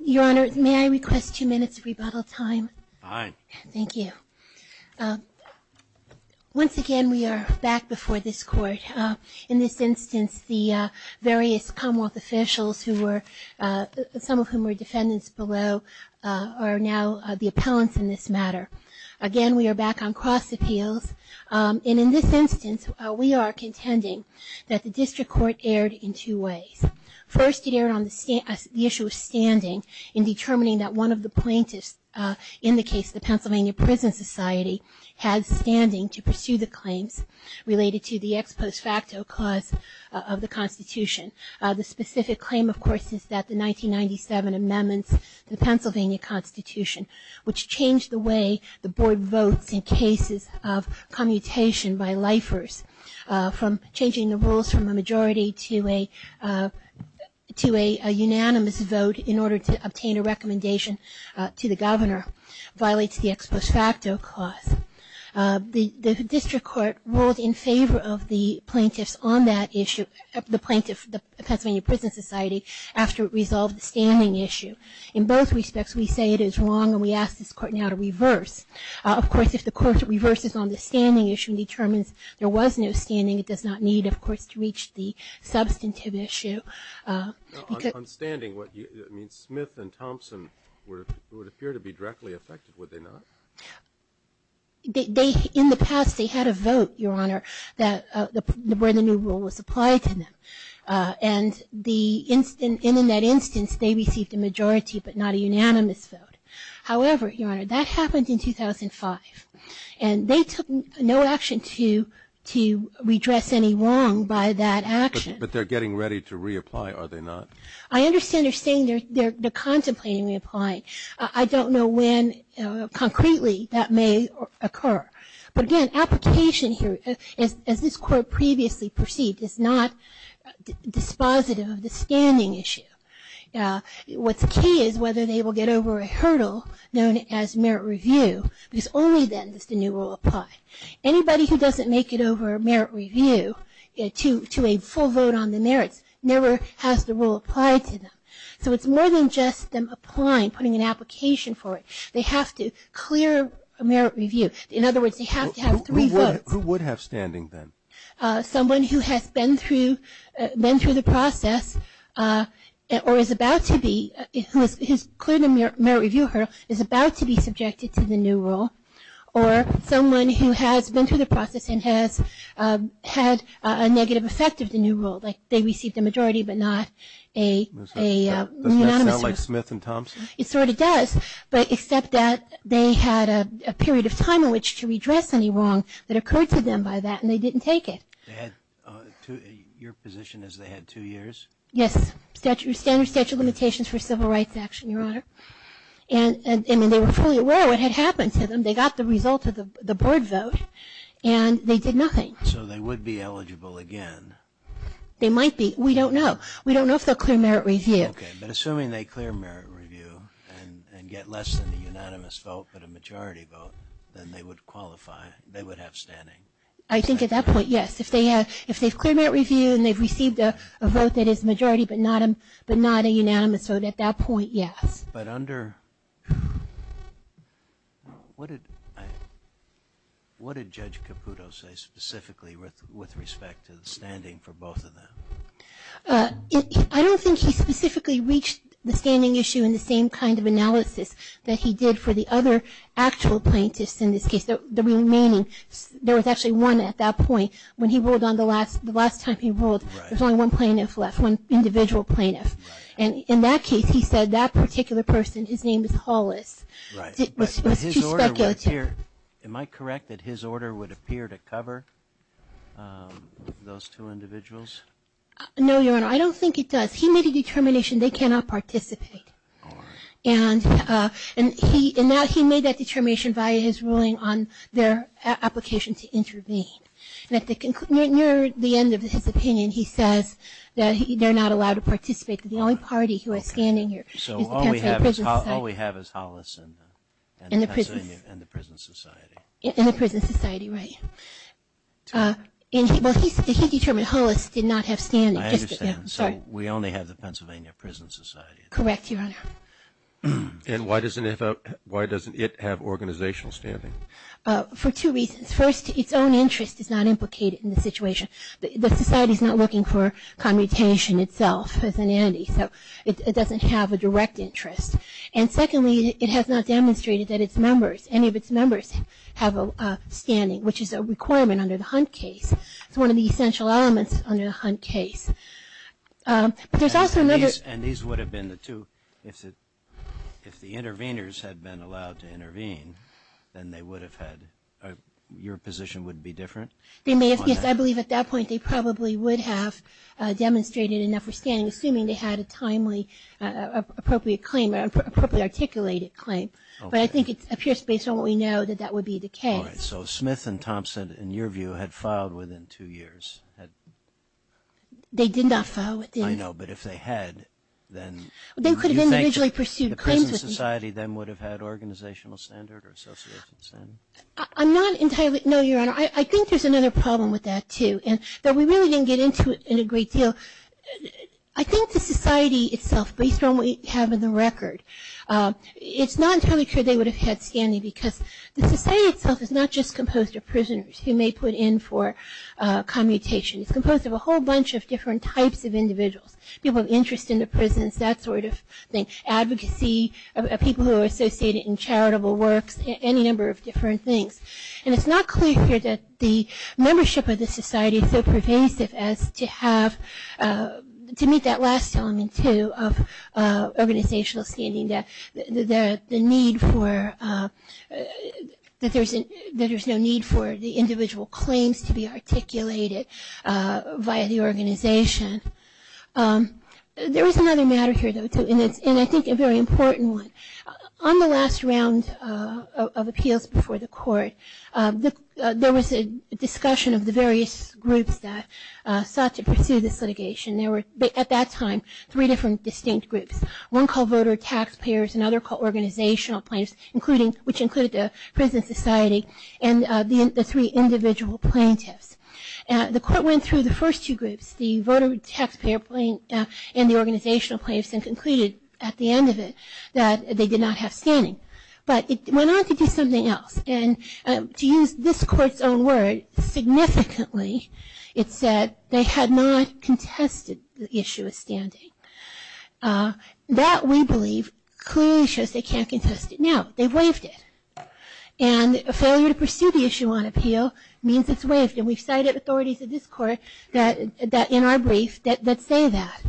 Your Honor, may I request two minutes of rebuttal time? Fine. Thank you. Once again we are back before this Court. In this instance the various Commonwealth officials who were, some of whom were defendants below, are now the appellants in this matter. Again we are back on cross appeals. And in this instance we are contending that the District Court erred in two ways. First it erred on the issue of standing in determining that one of the plaintiffs in the case, the Pennsylvania Prison Society, had standing to pursue the claim of Cortes is that the 1997 amendments to the Pennsylvania Constitution, which changed the way the Board votes in cases of commutation by lifers, from changing the rules from a majority to a unanimous vote in order to obtain a recommendation to the Governor, violates the ex post facto clause. The District Court ruled in favor of the plaintiffs on that issue, the Pennsylvania Prison Society, after it resolved the standing issue. In both respects we say it is wrong and we ask this Court now to reverse. Of course if the Court reverses on the standing issue and determines there was no standing, it does not need of course to reach the substantive issue. On standing, Smith and Thompson would appear to be directly affected, would they not? They, in the past, they had a vote, Your Honor, where the new rule was applied to them. And in that instance they received a majority but not a unanimous vote. However, Your Honor, that happened in 2005. And they took no action to redress any wrong by that action. But they're getting ready to reapply, are they not? I understand they're saying they're contemplating reapplying. I don't know when concretely that may occur. But again, application here, as this Court previously perceived, is not dispositive of the standing issue. What's key is whether they will get over a hurdle known as merit review because only then does the new rule apply. Anybody who doesn't make it over merit review to a full vote on the merits never has the rule applied to them. So it's more than just them applying, putting an application for it. They have to clear a merit review. In other words, they have to have three votes. Who would have standing then? Someone who has been through the process or is about to be, who has cleared the merit review hurdle, is about to be subjected to the new rule. Or someone who has been through the process and has had a negative effect of the new rule, like they received a majority but not a unanimous vote. Does that sound like Smith and Thompson? It sort of does, but except that they had a period of time in which to redress any wrong that occurred to them by that and they didn't take it. Your position is they had two years? Yes. Standard statute of limitations for civil rights action, Your Honor. And they were fully and they did nothing. So they would be eligible again? They might be. We don't know. We don't know if they'll clear merit review. Okay. But assuming they clear merit review and get less than the unanimous vote but a majority vote, then they would qualify. They would have standing. I think at that point, yes. If they have cleared merit review and they've received a vote that is majority but not a unanimous vote, at that point, yes. But under, what did Judge Caputo say specifically with respect to the standing for both of them? I don't think he specifically reached the standing issue in the same kind of analysis that he did for the other actual plaintiffs in this case. The remaining, there was actually one at that point. When he ruled on the last, the last time he ruled, there was only one plaintiff left, one individual plaintiff. And in that case, he said that particular person, his name is Hollis, was too speculative. Am I correct that his order would appear to cover those two individuals? No, Your Honor. I don't think it does. He made a determination they cannot participate. And he, and now he made that determination via his ruling on their application to intervene. And at the near the end of his opinion, he says that they're not allowed to participate. That the only party who has standing here is the Pennsylvania Prison Society. So all we have is Hollis and the Pennsylvania and the Prison Society. And the Prison Society, right. And he, well, he determined Hollis did not have standing. I understand. So we only have the Pennsylvania Prison Society. Correct, Your Honor. And why doesn't it have organizational standing? For two reasons. First, its own interest is not implicated in the situation. The society is not looking for commutation itself as an entity. So it doesn't have a direct interest. And secondly, it has not demonstrated that its members, any of its members have a standing, which is a requirement under the Hunt case. It's one of the essential elements under the Hunt case. There's also another... And these would have been the two, if the interveners had been allowed to intervene, then they would have had, your position would be different? Yes, I believe at that point they probably would have demonstrated enough for standing assuming they had a timely, appropriate claim, appropriately articulated claim. But I think it appears based on what we know that that would be the case. So Smith and Thompson, in your view, had filed within two years. They did not file. I know, but if they had, then... They could have individually pursued claims with me. The society then would have had organizational standard or association standard? I'm not entirely... No, Your Honor, I think there's another problem with that too. And though we really didn't get into it in a great deal, I think the society itself, based on what we have in the record, it's not entirely clear they would have had standing because the society itself is not just composed of prisoners who may put in for commutation. It's composed of a whole bunch of different types of individuals. People of interest in the prisons, that sort of thing. Advocacy, people who are associated in charitable works, any number of different things. And it's not clear here that the membership of the society is so pervasive as to have... to meet that last element too of organizational standing, that the need for... that there's no need for the individual claims to be articulated via the organization. There is another matter here, though, too, and I think a very important one. On the last round of appeals before the court, there was a discussion of the various groups that sought to pursue this litigation. There were, at that time, three different distinct groups. One called voter tax payers, another called organizational plaintiffs, which included the prison society, and the three individual plaintiffs. The court went through the first two groups, the voter tax payer plaintiff and the organizational plaintiffs, and concluded, at the end of it, that they did not have standing. But it went on to do something else, and to use this court's own word, significantly, it said they had not contested the issue of standing. That, we believe, clearly shows they can't contest it. Now, they've waived it. And a failure to pursue the issue on appeal means it's waived, and we've cited authorities of this court in our brief that say that.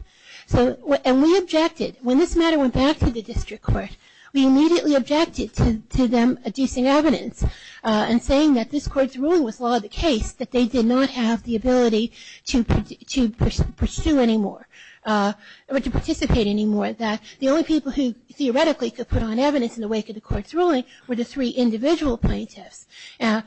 And we objected. When this matter went back to the district court, we immediately objected to them adducing evidence and saying that this court's ruling was law of the case, that they did not have the ability to pursue anymore, or to participate anymore. The only people who, theoretically, could put on evidence in the wake of the court's ruling were the three individual plaintiffs. And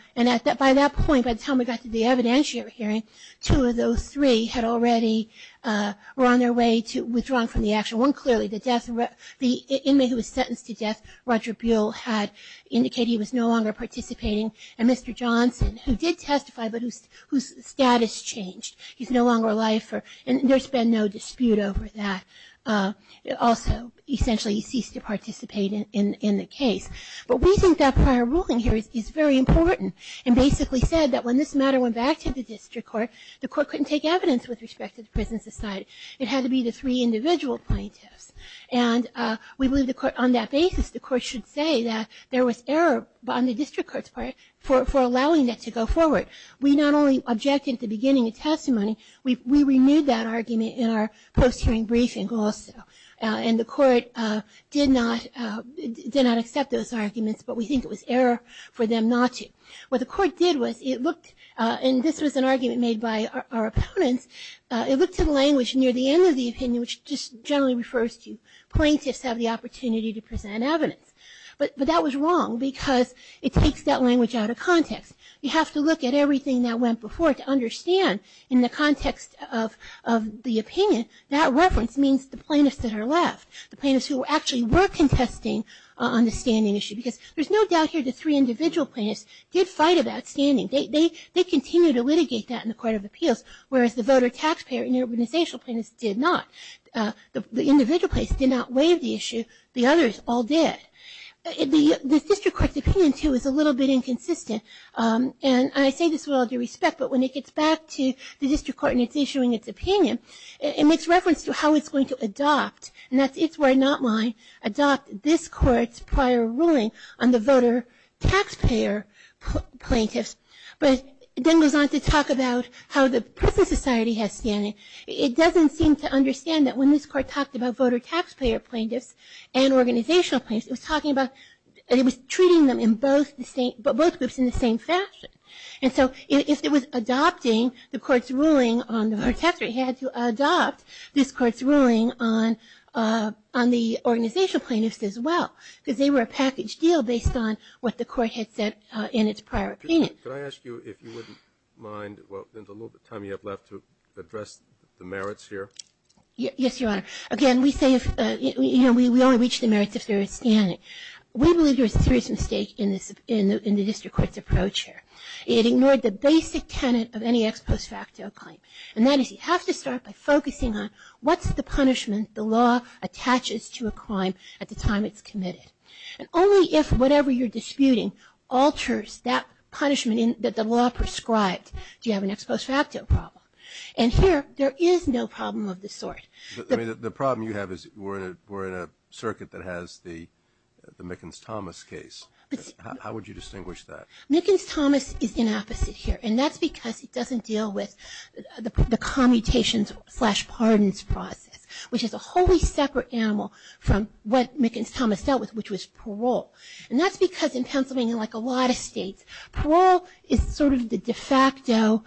by that point, by the time we got to the evidentiary hearing, two of those three had already were on their way to withdrawing from the action. One, clearly, the inmate who was sentenced to death, Roger Buell, had indicated he was no longer participating, and Mr. Johnson, who did testify, but whose status changed. He's no longer alive, and there's been no dispute over that. Also, essentially, he ceased to participate in the case. But we think that prior ruling here is very important, and basically said that when this matter went back to the district court, the court couldn't take evidence with respect to the prison society. It had to be the three individual plaintiffs. And we believe the court, on that basis, the court should say that there was error on the district court's part for allowing that to go forward. We not only objected at the beginning of testimony, we renewed that argument in our post-hearing briefing also. And the court did not accept those arguments, but we think it was error for them not to. What the court did was it looked, and this was an argument made by our opponents, it looked at language near the end of the opinion, which just generally refers to plaintiffs have the opportunity to present evidence. But that was wrong, because it takes that language out of context. You have to look at everything that went before it to understand, in the context of the opinion, that reference means the plaintiffs that are left, the plaintiffs who actually were contesting on the standing issue. Because there's no doubt here the three individual plaintiffs did fight about standing. They continued to litigate that in the Court of Appeals, whereas the voter taxpayer and the organizational plaintiffs did not. The individual plaintiffs did not waive the issue. The others all did. The district court's opinion, too, is a little bit inconsistent. And I say this with all due respect, but when it gets back to the district court and it's issuing its opinion, it makes reference to how it's going to adopt, and that's its word, not mine, adopt this court's prior ruling on the voter taxpayer plaintiffs, but then goes on to talk about how the present society has standing. It doesn't seem to understand that when this court talked about voter taxpayer plaintiffs and organizational plaintiffs, it was treating them in both groups in the same fashion. And so if it was adopting the court's ruling on the voter taxpayer, it had to adopt this court's ruling on the organizational plaintiffs as well, because they were a package deal based on what the court had said in its prior opinion. Could I ask you if you wouldn't mind, well, there's a little bit of time you have left, to address the merits here? Yes, Your Honor. Again, we say we only reach the merits if they're standing. We believe there was a serious mistake in the district court's approach here. It ignored the basic tenet of any ex post facto claim, and that is you have to start by focusing on what's the punishment the law attaches to a crime at the time it's committed. And only if whatever you're disputing alters that punishment that the law prescribed do you have an ex post facto problem. And here, there is no problem of the sort. The problem you have is we're in a circuit that has the Mickens-Thomas case. How would you distinguish that? Mickens-Thomas is the opposite here, and that's because it doesn't deal with the commutations slash pardons process, which is a wholly separate animal from what Mickens-Thomas dealt with, which was parole. And that's because in Pennsylvania, like a lot of states, parole is sort of the de facto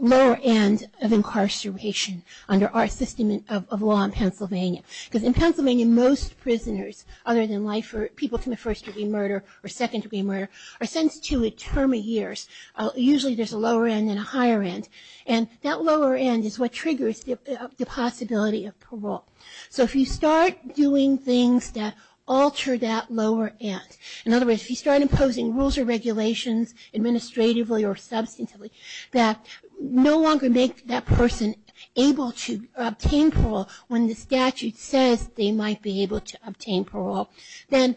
lower end of incarceration under our system of law in Pennsylvania. Because in Pennsylvania, most prisoners other than life or people from the first degree murder or second degree murder are sentenced to a term of years. Usually, there's a lower end and a higher end. And that lower end is what triggers the possibility of parole. So if you start doing things that alter that lower end, in other words, if you start imposing rules or regulations administratively or substantively that no longer make that person able to obtain parole when the statute says they might be able to obtain parole, then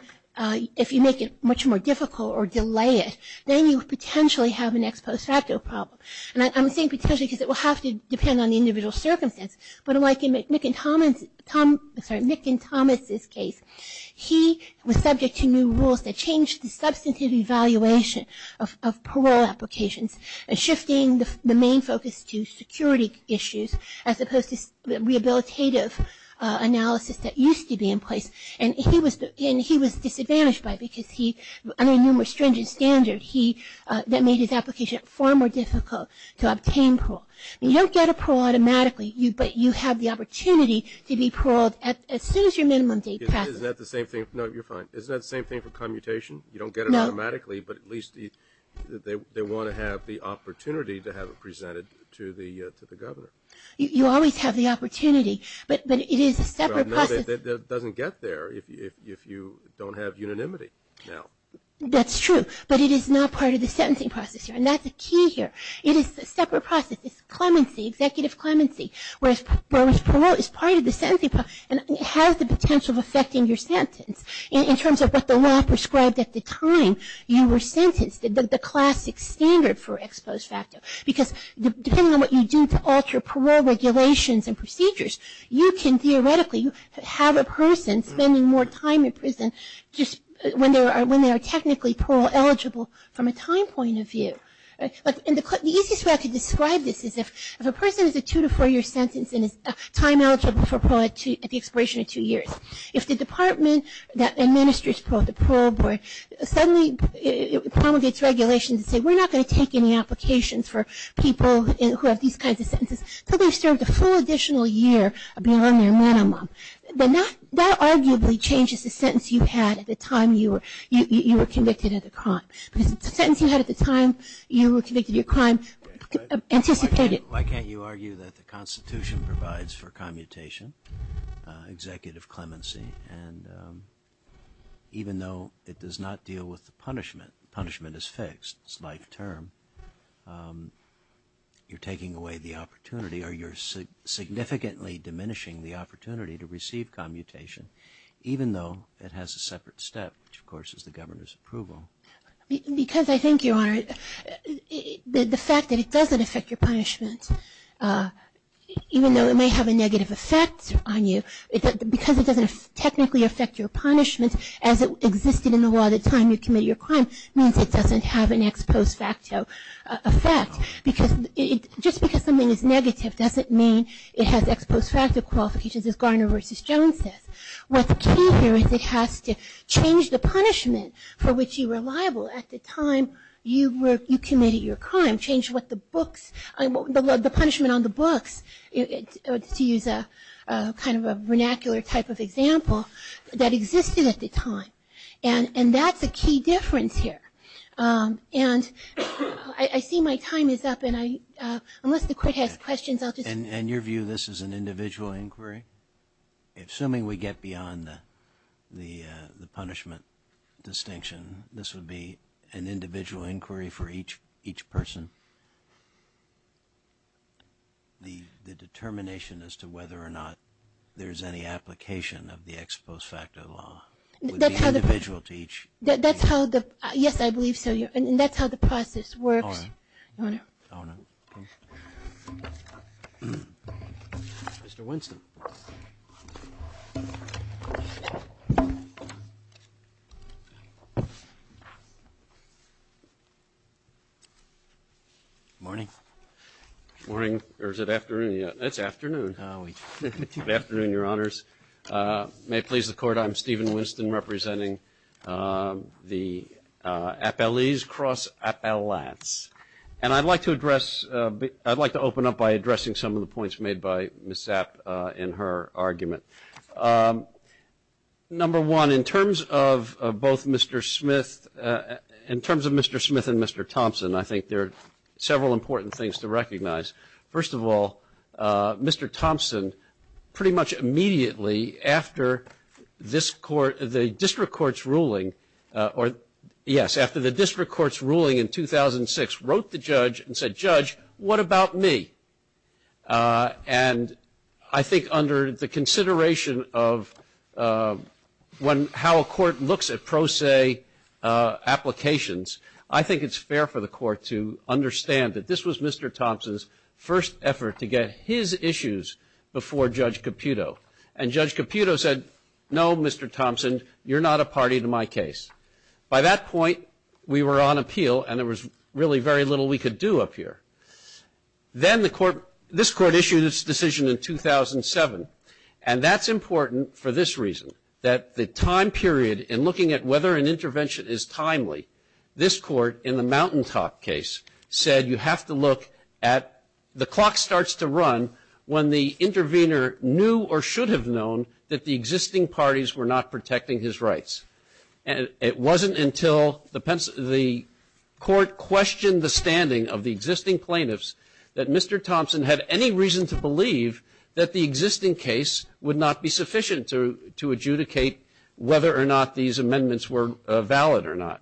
if you make it much more difficult or delay it, then you potentially have an ex post facto problem. And I'm saying potentially because it will have to depend on the individual circumstance. But like in Mickens-Thomas' case, he was subject to new rules that changed the substantive evaluation of parole applications and shifting the main focus to security issues as opposed to rehabilitative analysis that used to be in place. And he was disadvantaged by it because under numerous stringent standards, that made his application far more difficult to obtain parole. You don't get a parole automatically, but you have the opportunity to be paroled as soon as your minimum date passes. Isn't that the same thing? No, you're fine. Isn't that the same thing for commutation? You don't get it automatically, but at least they want to have the opportunity to have it presented to the governor. You always have the opportunity, but it is a separate process. It doesn't get there if you don't have unanimity. That's true, but it is not part of the sentencing process. And that's the key here. It is a separate process. It's clemency, executive clemency, whereas parole is part of the sentencing process and it has the potential of affecting your sentence. In terms of what the law prescribed at the time you were sentenced, the classic standard for ex post facto, because depending on what you do to alter parole regulations and procedures, you can theoretically have a person spending more time in prison when they are technically parole eligible from a time point of view. The easiest way I could describe this is if a person is a two to four year sentence and is time eligible for parole at the expiration of two years, if the department that administers the parole board suddenly promulgates regulations and says we're not going to take any applications for people who have these kinds of sentences, so they've served a full additional year beyond their minimum, that arguably changes the sentence you had at the time you were convicted of the crime. Because the sentence you had at the time you were convicted of your crime anticipated. Why can't you argue that the Constitution provides for commutation, executive clemency, and even though it does not deal with the punishment, punishment is fixed, it's life term, you're taking away the opportunity or you're significantly diminishing the opportunity to receive commutation even though it has a separate step, which of course is the governor's approval. Because I think, Your Honor, the fact that it doesn't affect your punishment, even though it may have a negative effect on you, because it doesn't technically affect your punishment as it existed in the law at the time you committed your crime, means it doesn't have an ex post facto effect. Just because something is negative doesn't mean it has ex post facto qualifications as Garner v. Jones says. What's key here is it has to change the punishment for which you were liable at the time you committed your crime, change what the books, the punishment on the books, to use a kind of a vernacular type of example, that existed at the time. And that's a key difference here. And I see my time is up, and unless the court has questions, I'll just... And your view, this is an individual inquiry? Assuming we get beyond the punishment distinction, this would be an individual inquiry for each person? The determination as to whether or not there's any application of the ex post facto law would be individual to each? Yes, I believe so. And that's how the process works, Your Honor. Mr. Winston. Morning. Morning. Or is it afternoon? It's afternoon. Good afternoon, Your Honors. May it please the Court, I'm Stephen Winston, representing the Appellees Cross Appellates. And I'd like to address, I'd like to open up by addressing some of the points made by Ms. Sapp in her argument. Number one, in terms of both Mr. Smith, in terms of Mr. Smith and Mr. Thompson, I think there are several important things to recognize. First of all, Mr. Thompson, pretty much immediately after this court, the district court's ruling, yes, after the district court's ruling in 2006 wrote the judge and said, Judge, what about me? And I think under the consideration of how a court looks at pro se applications, I think it's fair for the court to understand that this was Mr. Thompson's first effort to get his issues before Judge Caputo. And Judge Caputo said, no, Mr. Thompson, you're not a party to my case. By that point, we were on appeal, and there was really very little we could do up here. Then the court, this court issued its decision in 2007, and that's important for this reason, that the time period in looking at whether an intervention is timely, this court in the Mountaintop case said you have to look at, the clock starts to run when the intervener knew or should have known that the existing parties were not protecting his rights. It wasn't until the court questioned the standing of the existing plaintiffs that Mr. Thompson had any reason to believe that the existing case would not be sufficient to adjudicate whether or not these amendments were valid or not.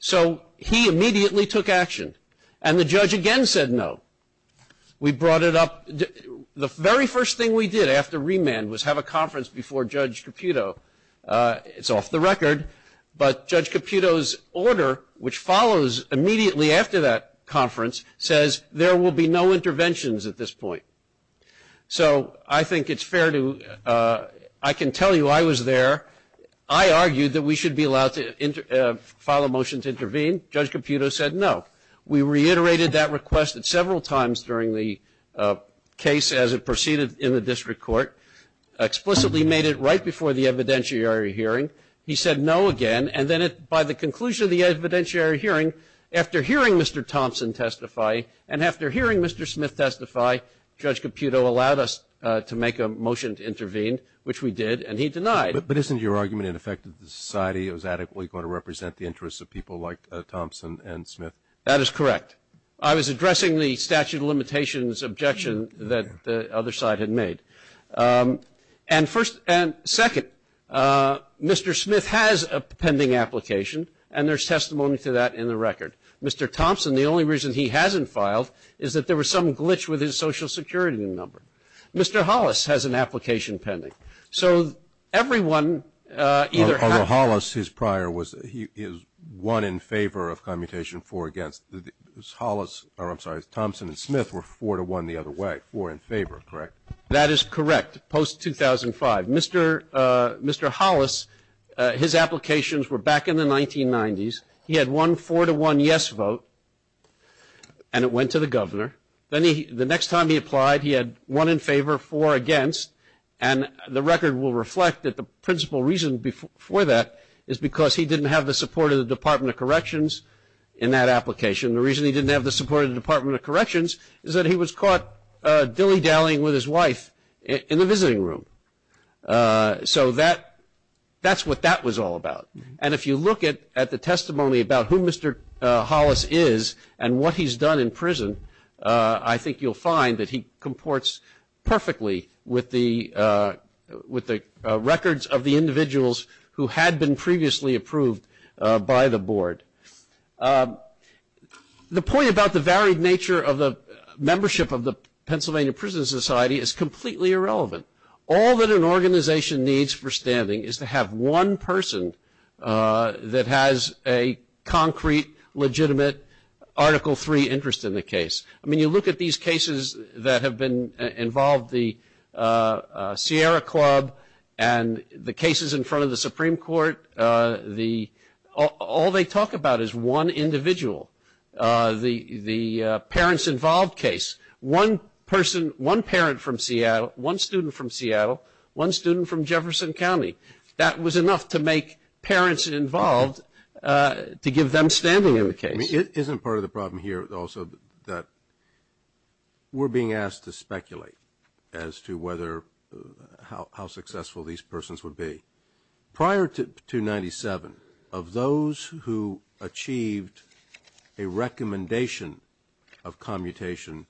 So he immediately took action, and the judge again said no. We brought it up. The very first thing we did after remand was have a conference before Judge Caputo. It's off the record, but Judge Caputo's order, which follows immediately after that conference, says there will be no interventions at this point. So I think it's fair to, I can tell you I was there. I argued that we should be allowed to file a motion to intervene. Judge Caputo said no. We reiterated that request several times during the case as it proceeded in the district court, explicitly made it right before the evidentiary hearing. He said no again, and then by the conclusion of the evidentiary hearing, after hearing Mr. Thompson testify and after hearing Mr. Smith testify, Judge Caputo allowed us to make a motion to intervene, which we did, and he denied. But isn't your argument, in effect, that the society was adequately going to represent the interests of people like Thompson and Smith? That is correct. I was addressing the statute of limitations objection that the other side had made. And second, Mr. Smith has a pending application, and there's testimony to that in the record. Mr. Thompson, the only reason he hasn't filed is that there was some glitch with his Social Security number. Mr. Hollis has an application pending. So everyone either has to- Although Hollis, his prior, he was one in favor of commutation, four against. Hollis, or I'm sorry, Thompson and Smith were four to one the other way, four in favor, correct? That is correct, post-2005. Mr. Hollis, his applications were back in the 1990s. He had one four to one yes vote, and it went to the governor. Then the next time he applied, he had one in favor, four against. And the record will reflect that the principal reason for that is because he didn't have the support of the Department of Corrections in that application. The reason he didn't have the support of the Department of Corrections is that he was caught dilly-dallying with his wife in the visiting room. So that's what that was all about. And if you look at the testimony about who Mr. Hollis is and what he's done in prison, I think you'll find that he comports perfectly with the records of the individuals who had been previously approved by the board. The point about the varied nature of the membership of the Pennsylvania Prison Society is completely irrelevant. All that an organization needs for standing is to have one person that has a concrete, legitimate Article III interest in the case. I mean, you look at these cases that have involved the Sierra Club and the cases in front of the Supreme Court, all they talk about is one individual. The parents involved case, one person, one parent from Seattle, one student from Seattle, one student from Jefferson County, that was enough to make parents involved to give them standing in the case. It isn't part of the problem here also that we're being asked to speculate as to whether, how successful these persons would be. Prior to 97, of those who achieved a recommendation of commutation,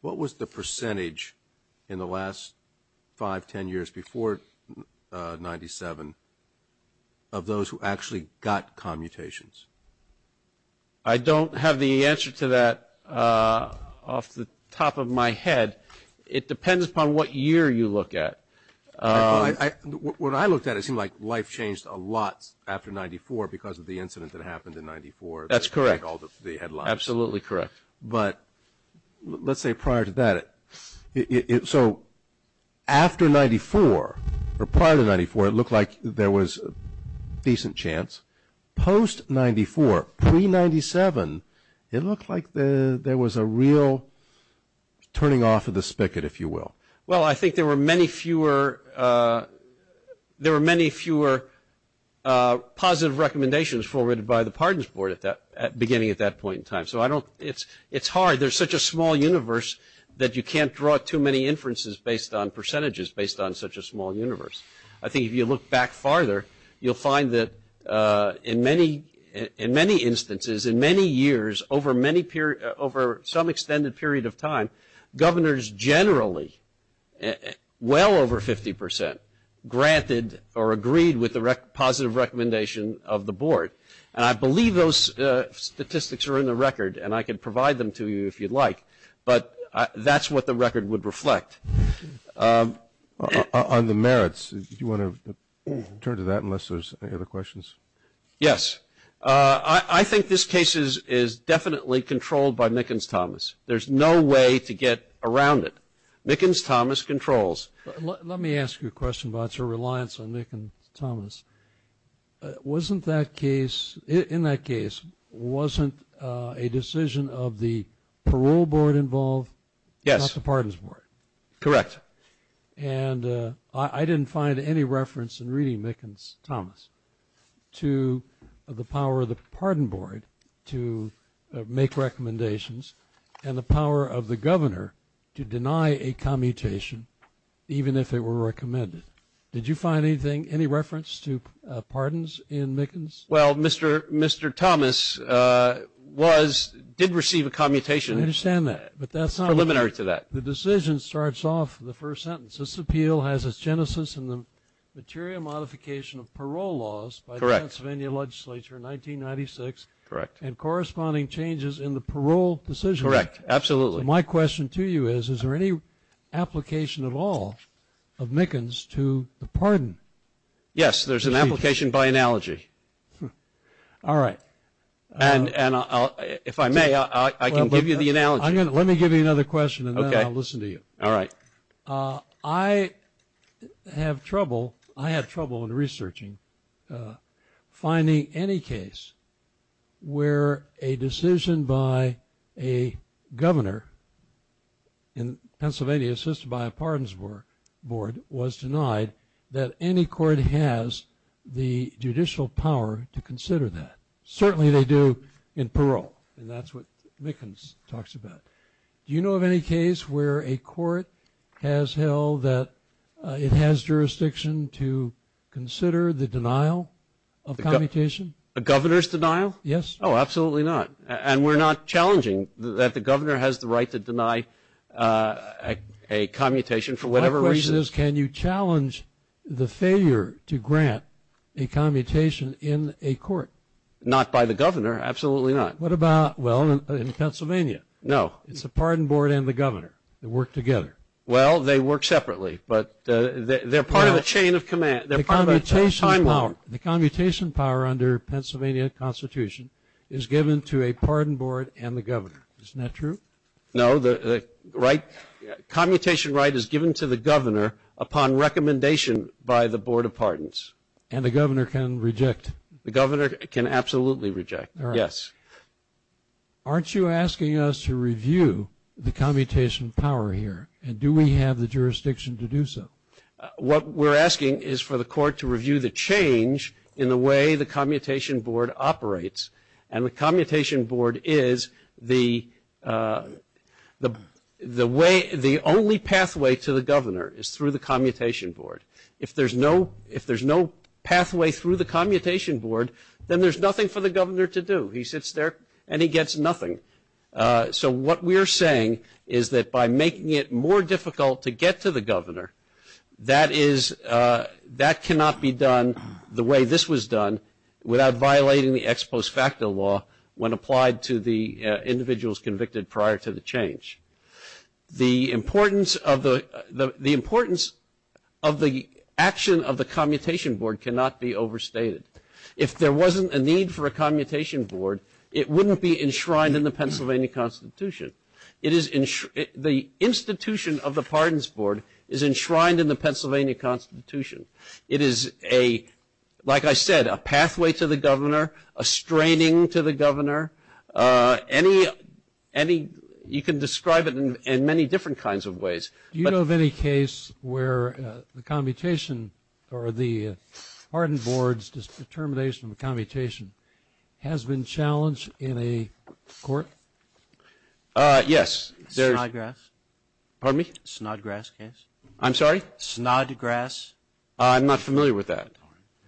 what was the percentage in the last 5, 10 years before 97 of those who actually got commutations? I don't have the answer to that off the top of my head. It depends upon what year you look at. When I looked at it, it seemed like life changed a lot after 94 because of the incident that happened in 94. That's correct. Absolutely correct. But let's say prior to that. So after 94, or prior to 94, it looked like there was a decent chance. Post-94, pre-97, it looked like there was a real turning off of the spigot, if you will. Well, I think there were many fewer positive recommendations forwarded by the Pardons Board beginning at that point in time. So it's hard. There's such a small universe that you can't draw too many inferences based on percentages, based on such a small universe. I think if you look back farther, you'll find that in many instances, in many years, over some extended period of time, governors generally, well over 50 percent, granted or agreed with the positive recommendation of the board. And I believe those statistics are in the record, and I can provide them to you if you'd like. But that's what the record would reflect. On the merits, do you want to turn to that unless there's any other questions? Yes. I think this case is definitely controlled by Mickens-Thomas. There's no way to get around it. Mickens-Thomas controls. Let me ask you a question about your reliance on Mickens-Thomas. Wasn't that case, in that case, wasn't a decision of the parole board involved? Yes. Not the Pardons Board? Correct. And I didn't find any reference in reading Mickens-Thomas to the power of the Pardon Board to make recommendations and the power of the governor to deny a commutation, even if it were recommended. Did you find anything, any reference to pardons in Mickens? Well, Mr. Thomas was, did receive a commutation. I understand that, but that's not. Preliminary to that. The decision starts off the first sentence. This appeal has its genesis in the material modification of parole laws. Correct. By the Pennsylvania legislature in 1996. Correct. And corresponding changes in the parole decision. Correct. Absolutely. So my question to you is, is there any application at all of Mickens to the pardon? Yes, there's an application by analogy. All right. And if I may, I can give you the analogy. Let me give you another question and then I'll listen to you. All right. I have trouble, I have trouble in researching finding any case where a decision by a governor in Pennsylvania assisted by a Pardons Board was denied that any court has the judicial power to consider that. Certainly they do in parole. And that's what Mickens talks about. Do you know of any case where a court has held that it has jurisdiction to consider the denial of commutation? A governor's denial? Yes. Oh, absolutely not. And we're not challenging that the governor has the right to deny a commutation for whatever reason. My question is, can you challenge the failure to grant a commutation in a court? Not by the governor. Absolutely not. What about, well, in Pennsylvania? No. It's the Pardon Board and the governor that work together. Well, they work separately. But they're part of a chain of command. They're part of a timeline. The commutation power under Pennsylvania Constitution is given to a Pardon Board and the governor. Isn't that true? No. Commutation right is given to the governor upon recommendation by the Board of Pardons. And the governor can reject? The governor can absolutely reject. Yes. Aren't you asking us to review the commutation power here? And do we have the jurisdiction to do so? What we're asking is for the court to review the change in the way the commutation board operates. And the commutation board is the only pathway to the governor is through the commutation board. If there's no pathway through the commutation board, then there's nothing for the governor to do. He sits there and he gets nothing. So what we're saying is that by making it more difficult to get to the governor, that cannot be done the way this was done without violating the ex post facto law when applied to the individuals convicted prior to the change. The importance of the action of the commutation board cannot be overstated. If there wasn't a need for a commutation board, it wouldn't be enshrined in the Pennsylvania Constitution. The institution of the pardons board is enshrined in the Pennsylvania Constitution. It is, like I said, a pathway to the governor, a straining to the governor. You can describe it in many different kinds of ways. Do you know of any case where the commutation or the pardon board's determination of commutation has been challenged in a court? Snodgrass. Pardon me? Snodgrass case. I'm sorry? Snodgrass. I'm not familiar with that.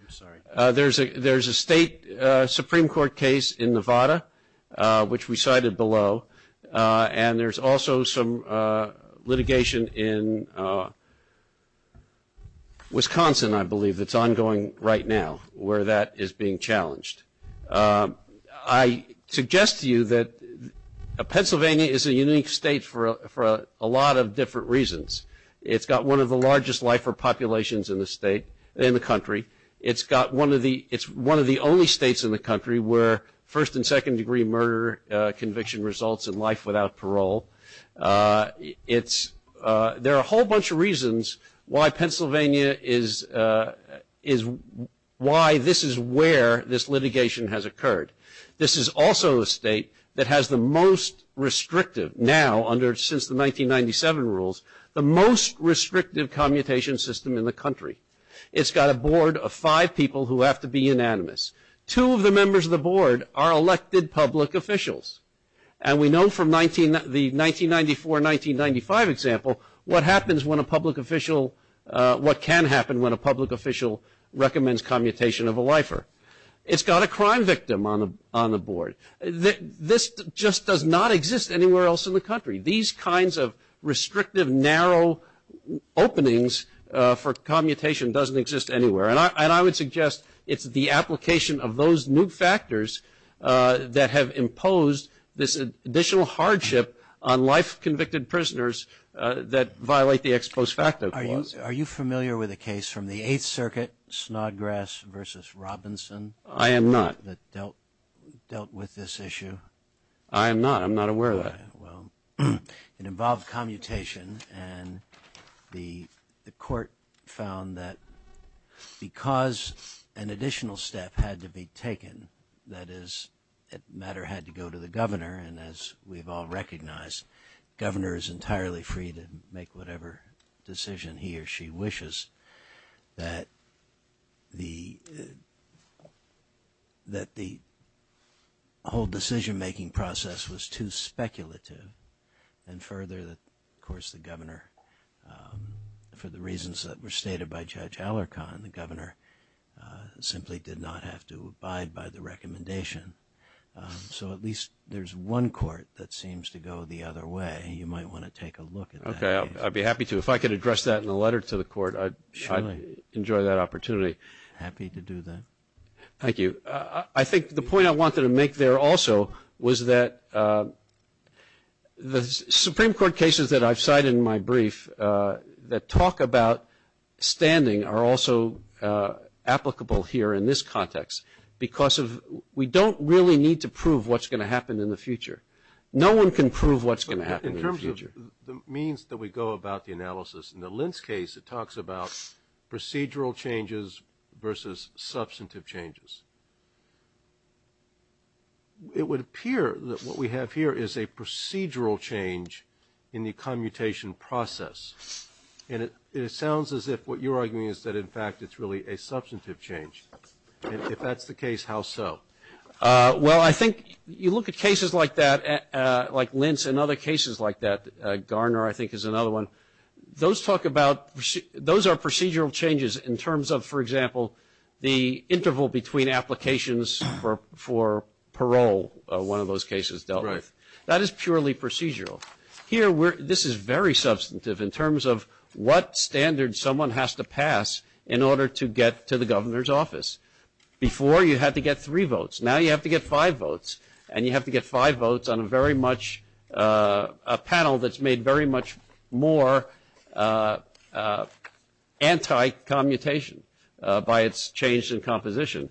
I'm sorry. There's a state Supreme Court case in Nevada, which we cited below, and there's also some litigation in Wisconsin, I believe, that's ongoing right now, where that is being challenged. I suggest to you that Pennsylvania is a unique state for a lot of different reasons. It's got one of the largest lifer populations in the country. It's one of the only states in the country where first and second degree murder conviction results in life without parole. There are a whole bunch of reasons why this is where this litigation has occurred. This is also a state that has the most restrictive, now, since the 1997 rules, the most restrictive commutation system in the country. It's got a board of five people who have to be unanimous. Two of the members of the board are elected public officials, and we know from the 1994-1995 example what happens when a public official, what can happen when a public official recommends commutation of a lifer. It's got a crime victim on the board. This just does not exist anywhere else in the country. These kinds of restrictive, narrow openings for commutation doesn't exist anywhere, and I would suggest it's the application of those new factors that have imposed this additional hardship on life convicted prisoners that violate the ex post facto clause. Are you familiar with a case from the Eighth Circuit, Snodgrass v. Robinson? I am not. That dealt with this issue? I am not. I'm not aware of that. Well, it involved commutation, and the court found that because an additional step had to be taken, that is, that matter had to go to the governor, and as we've all recognized, the governor is entirely free to make whatever decision he or she wishes, that the whole decision-making process was too speculative, and further, of course, the governor, for the reasons that were stated by Judge Alarcon, the governor simply did not have to abide by the recommendation. So at least there's one court that seems to go the other way. You might want to take a look at that case. Okay, I'd be happy to. If I could address that in a letter to the court, I'd enjoy that opportunity. Happy to do that. Thank you. I think the point I wanted to make there also was that the Supreme Court cases that I've cited in my brief that talk about standing are also applicable here in this context, because we don't really need to prove what's going to happen in the future. No one can prove what's going to happen in the future. The means that we go about the analysis in the Lentz case, it talks about procedural changes versus substantive changes. It would appear that what we have here is a procedural change in the commutation process, and it sounds as if what you're arguing is that, in fact, it's really a substantive change. If that's the case, how so? Well, I think you look at cases like that, like Lentz and other cases like that. Garner, I think, is another one. Those talk about those are procedural changes in terms of, for example, the interval between applications for parole, one of those cases dealt with. Right. That is purely procedural. Here, this is very substantive in terms of what standard someone has to pass in order to get to the governor's office. Before, you had to get three votes. Now you have to get five votes, and you have to get five votes on a panel that's made very much more anti-commutation by its change in composition.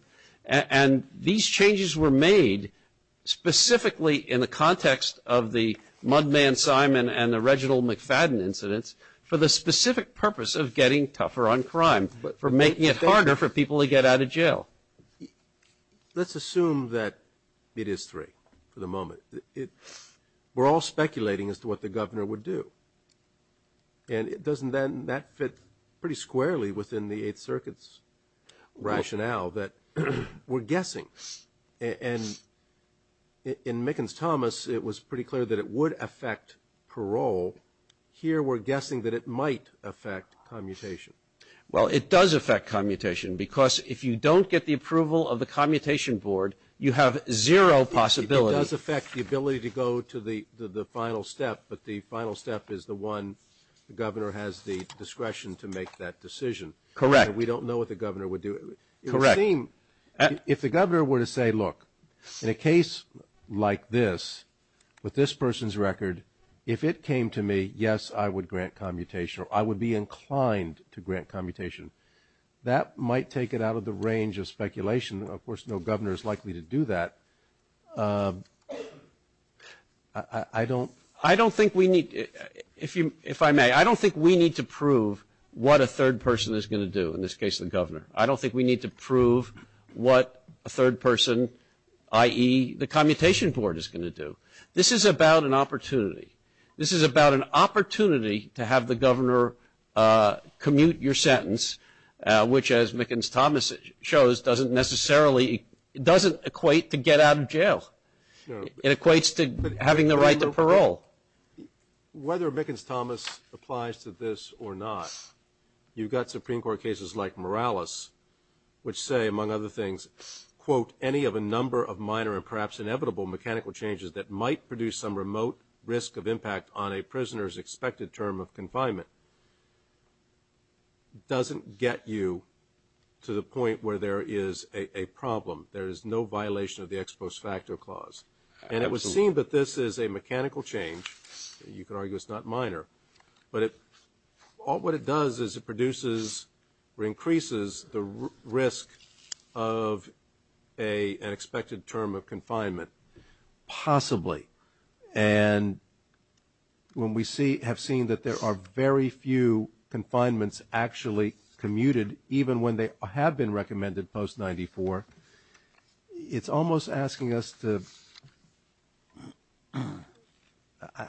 These changes were made specifically in the context of the Mudman Simon and the Reginald McFadden incidents for the specific purpose of getting tougher on crime, but for making it harder for people to get out of jail. Let's assume that it is three for the moment. We're all speculating as to what the governor would do, and that fits pretty squarely within the Eighth Circuit's rationale that we're guessing. And in Mickens-Thomas, it was pretty clear that it would affect parole. Here, we're guessing that it might affect commutation. Well, it does affect commutation because if you don't get the approval of the commutation board, you have zero possibility. It does affect the ability to go to the final step, but the final step is the one the governor has the discretion to make that decision. Correct. We don't know what the governor would do. Correct. It would seem if the governor were to say, look, in a case like this, with this person's record, if it came to me, yes, I would grant commutation, or I would be inclined to grant commutation, that might take it out of the range of speculation. Of course, no governor is likely to do that. I don't think we need to prove what a third person is going to do in this case, the governor. I don't think we need to prove what a third person, i.e., the commutation board, is going to do. This is about an opportunity. This is about an opportunity to have the governor commute your sentence, which, as Mickens-Thomas shows, doesn't necessarily, doesn't equate to get out of jail. It equates to having the right to parole. Whether Mickens-Thomas applies to this or not, you've got Supreme Court cases like Morales, which say, among other things, quote, any of a number of minor and perhaps inevitable mechanical changes that might produce some remote risk of impact on a prisoner's expected term of confinement doesn't get you to the point where there is a problem. There is no violation of the ex post facto clause. And it would seem that this is a mechanical change. You could argue it's not minor. But what it does is it produces or increases the risk of an expected term of confinement, possibly. And when we have seen that there are very few confinements actually commuted, even when they have been recommended post-94, it's almost asking us to,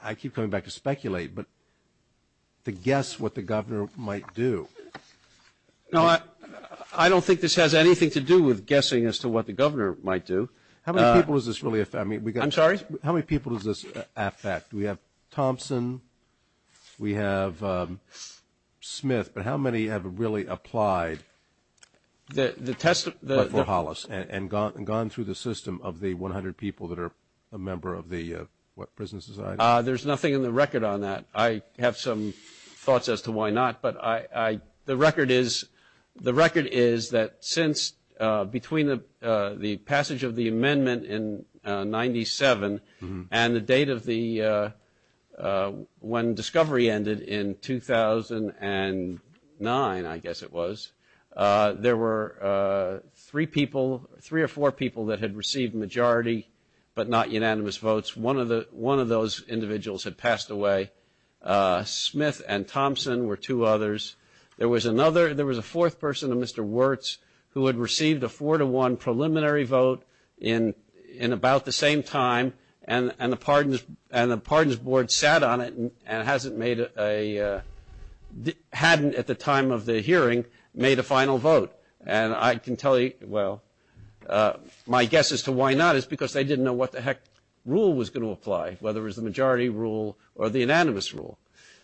I keep coming back to speculate, but to guess what the governor might do. No, I don't think this has anything to do with guessing as to what the governor might do. How many people does this really affect? I'm sorry? How many people does this affect? We have Thompson. We have Smith. But how many have really applied before Hollis and gone through the system of the 100 people that are a member of the Prison Society? There's nothing in the record on that. I have some thoughts as to why not. But the record is that since between the passage of the amendment in 97 and the date of when discovery ended in 2009, I guess it was, there were three or four people that had received majority but not unanimous votes. One of those individuals had passed away. Smith and Thompson were two others. There was a fourth person, a Mr. Wirtz, who had received a four-to-one preliminary vote in about the same time, and the Pardons Board sat on it and hadn't at the time of the hearing made a final vote. And I can tell you, well, my guess as to why not is because they didn't know what the heck rule was going to apply, whether it was the majority rule or the unanimous rule.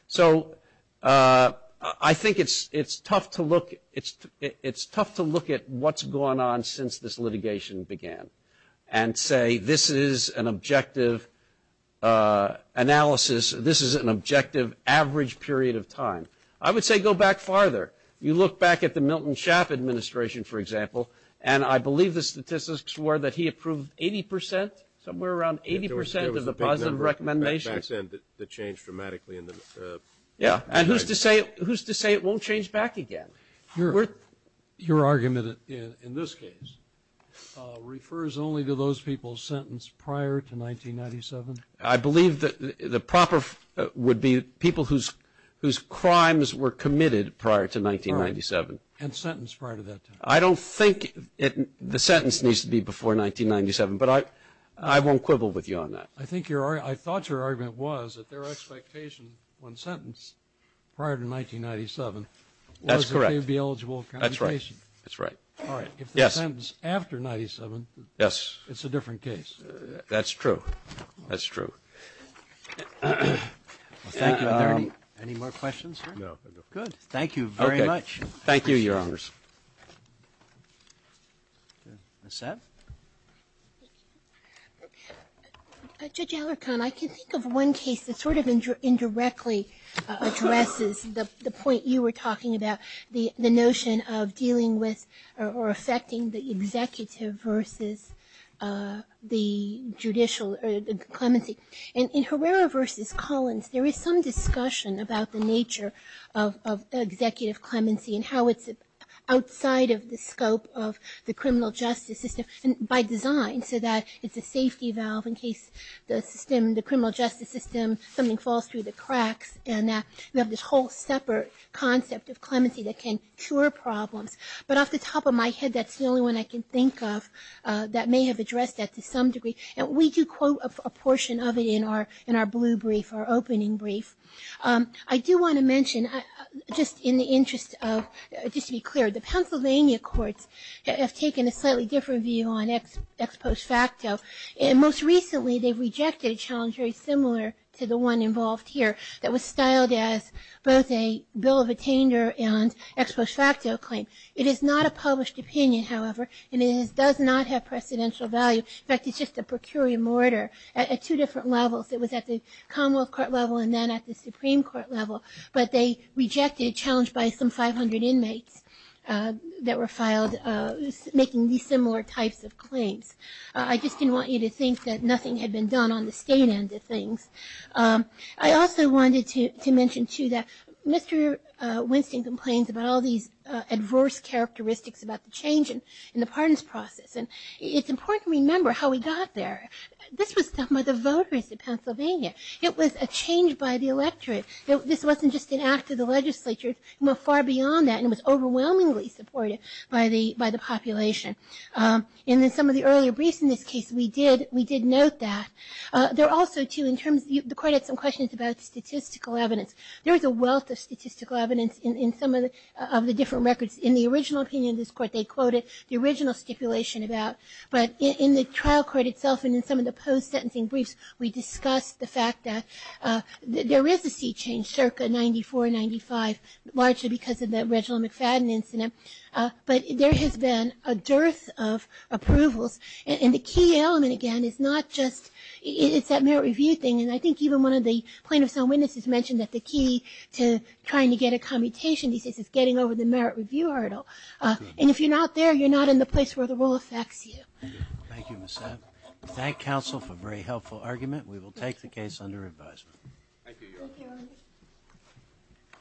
So I think it's tough to look at what's gone on since this litigation began and say this is an objective analysis, this is an objective average period of time. I would say go back farther. You look back at the Milton Schaap administration, for example, and I believe the statistics were that he approved 80 percent, somewhere around 80 percent of the positive recommendations. There was a big number back then that changed dramatically. Yeah, and who's to say it won't change back again? Your argument in this case refers only to those people sentenced prior to 1997? I believe that the proper would be people whose crimes were committed prior to 1997. Right, and sentenced prior to that time. I don't think the sentence needs to be before 1997, but I won't quibble with you on that. I think your argument, I thought your argument was that their expectation when sentenced prior to 1997. That's correct. Was that they would be eligible for compensation. That's right, that's right. All right, if they're sentenced after 1997, it's a different case. That's true, that's true. Thank you. Are there any more questions? No. Good, thank you very much. Thank you, Your Honors. Ms. Satt? Thank you. Judge Alarcon, I can think of one case that sort of indirectly addresses the point you were talking about, the notion of dealing with or affecting the executive versus the judicial clemency. In Herrera v. Collins, there is some discussion about the nature of executive clemency and how it's outside of the scope of the criminal justice system by design, so that it's a safety valve in case the criminal justice system, something falls through the cracks, and that we have this whole separate concept of clemency that can cure problems. But off the top of my head, that's the only one I can think of that may have addressed that to some degree. And we do quote a portion of it in our blue brief, our opening brief. I do want to mention, just in the interest of, just to be clear, the Pennsylvania courts have taken a slightly different view on ex post facto, and most recently they've rejected a challenge very similar to the one involved here that was styled as both a bill of attainder and ex post facto claim. It is not a published opinion, however, and it does not have precedential value. In fact, it's just a per curiam order at two different levels. It was at the Commonwealth Court level and then at the Supreme Court level, but they rejected a challenge by some 500 inmates that were filed making these similar types of claims. I just didn't want you to think that nothing had been done on the state end of things. I also wanted to mention, too, that Mr. Winston complains about all these adverse characteristics about the change in the pardons process, and it's important to remember how we got there. This was done by the voters of Pennsylvania. It was a change by the electorate. This wasn't just an act of the legislature. It went far beyond that, and it was overwhelmingly supported by the population. In some of the earlier briefs in this case, we did note that. There are also, too, in terms, the court had some questions about statistical evidence. There was a wealth of statistical evidence in some of the different records. In the original opinion of this court, they quoted the original stipulation about, but in the trial court itself and in some of the post-sentencing briefs, we discussed the fact that there is a seat change, circa 94, 95, largely because of the Reginald McFadden incident, but there has been a dearth of approvals, and the key element, again, is not just it's that merit review thing, and I think even one of the plaintiff's own witnesses mentioned that the key to trying to get a commutation is getting over the merit review hurdle, and if you're not there, you're not in the place where the rule affects you. Thank you, Ms. Sapp. We thank counsel for a very helpful argument. We will take the case under advisement. Thank you, Your Honor. Thank you, Your Honor.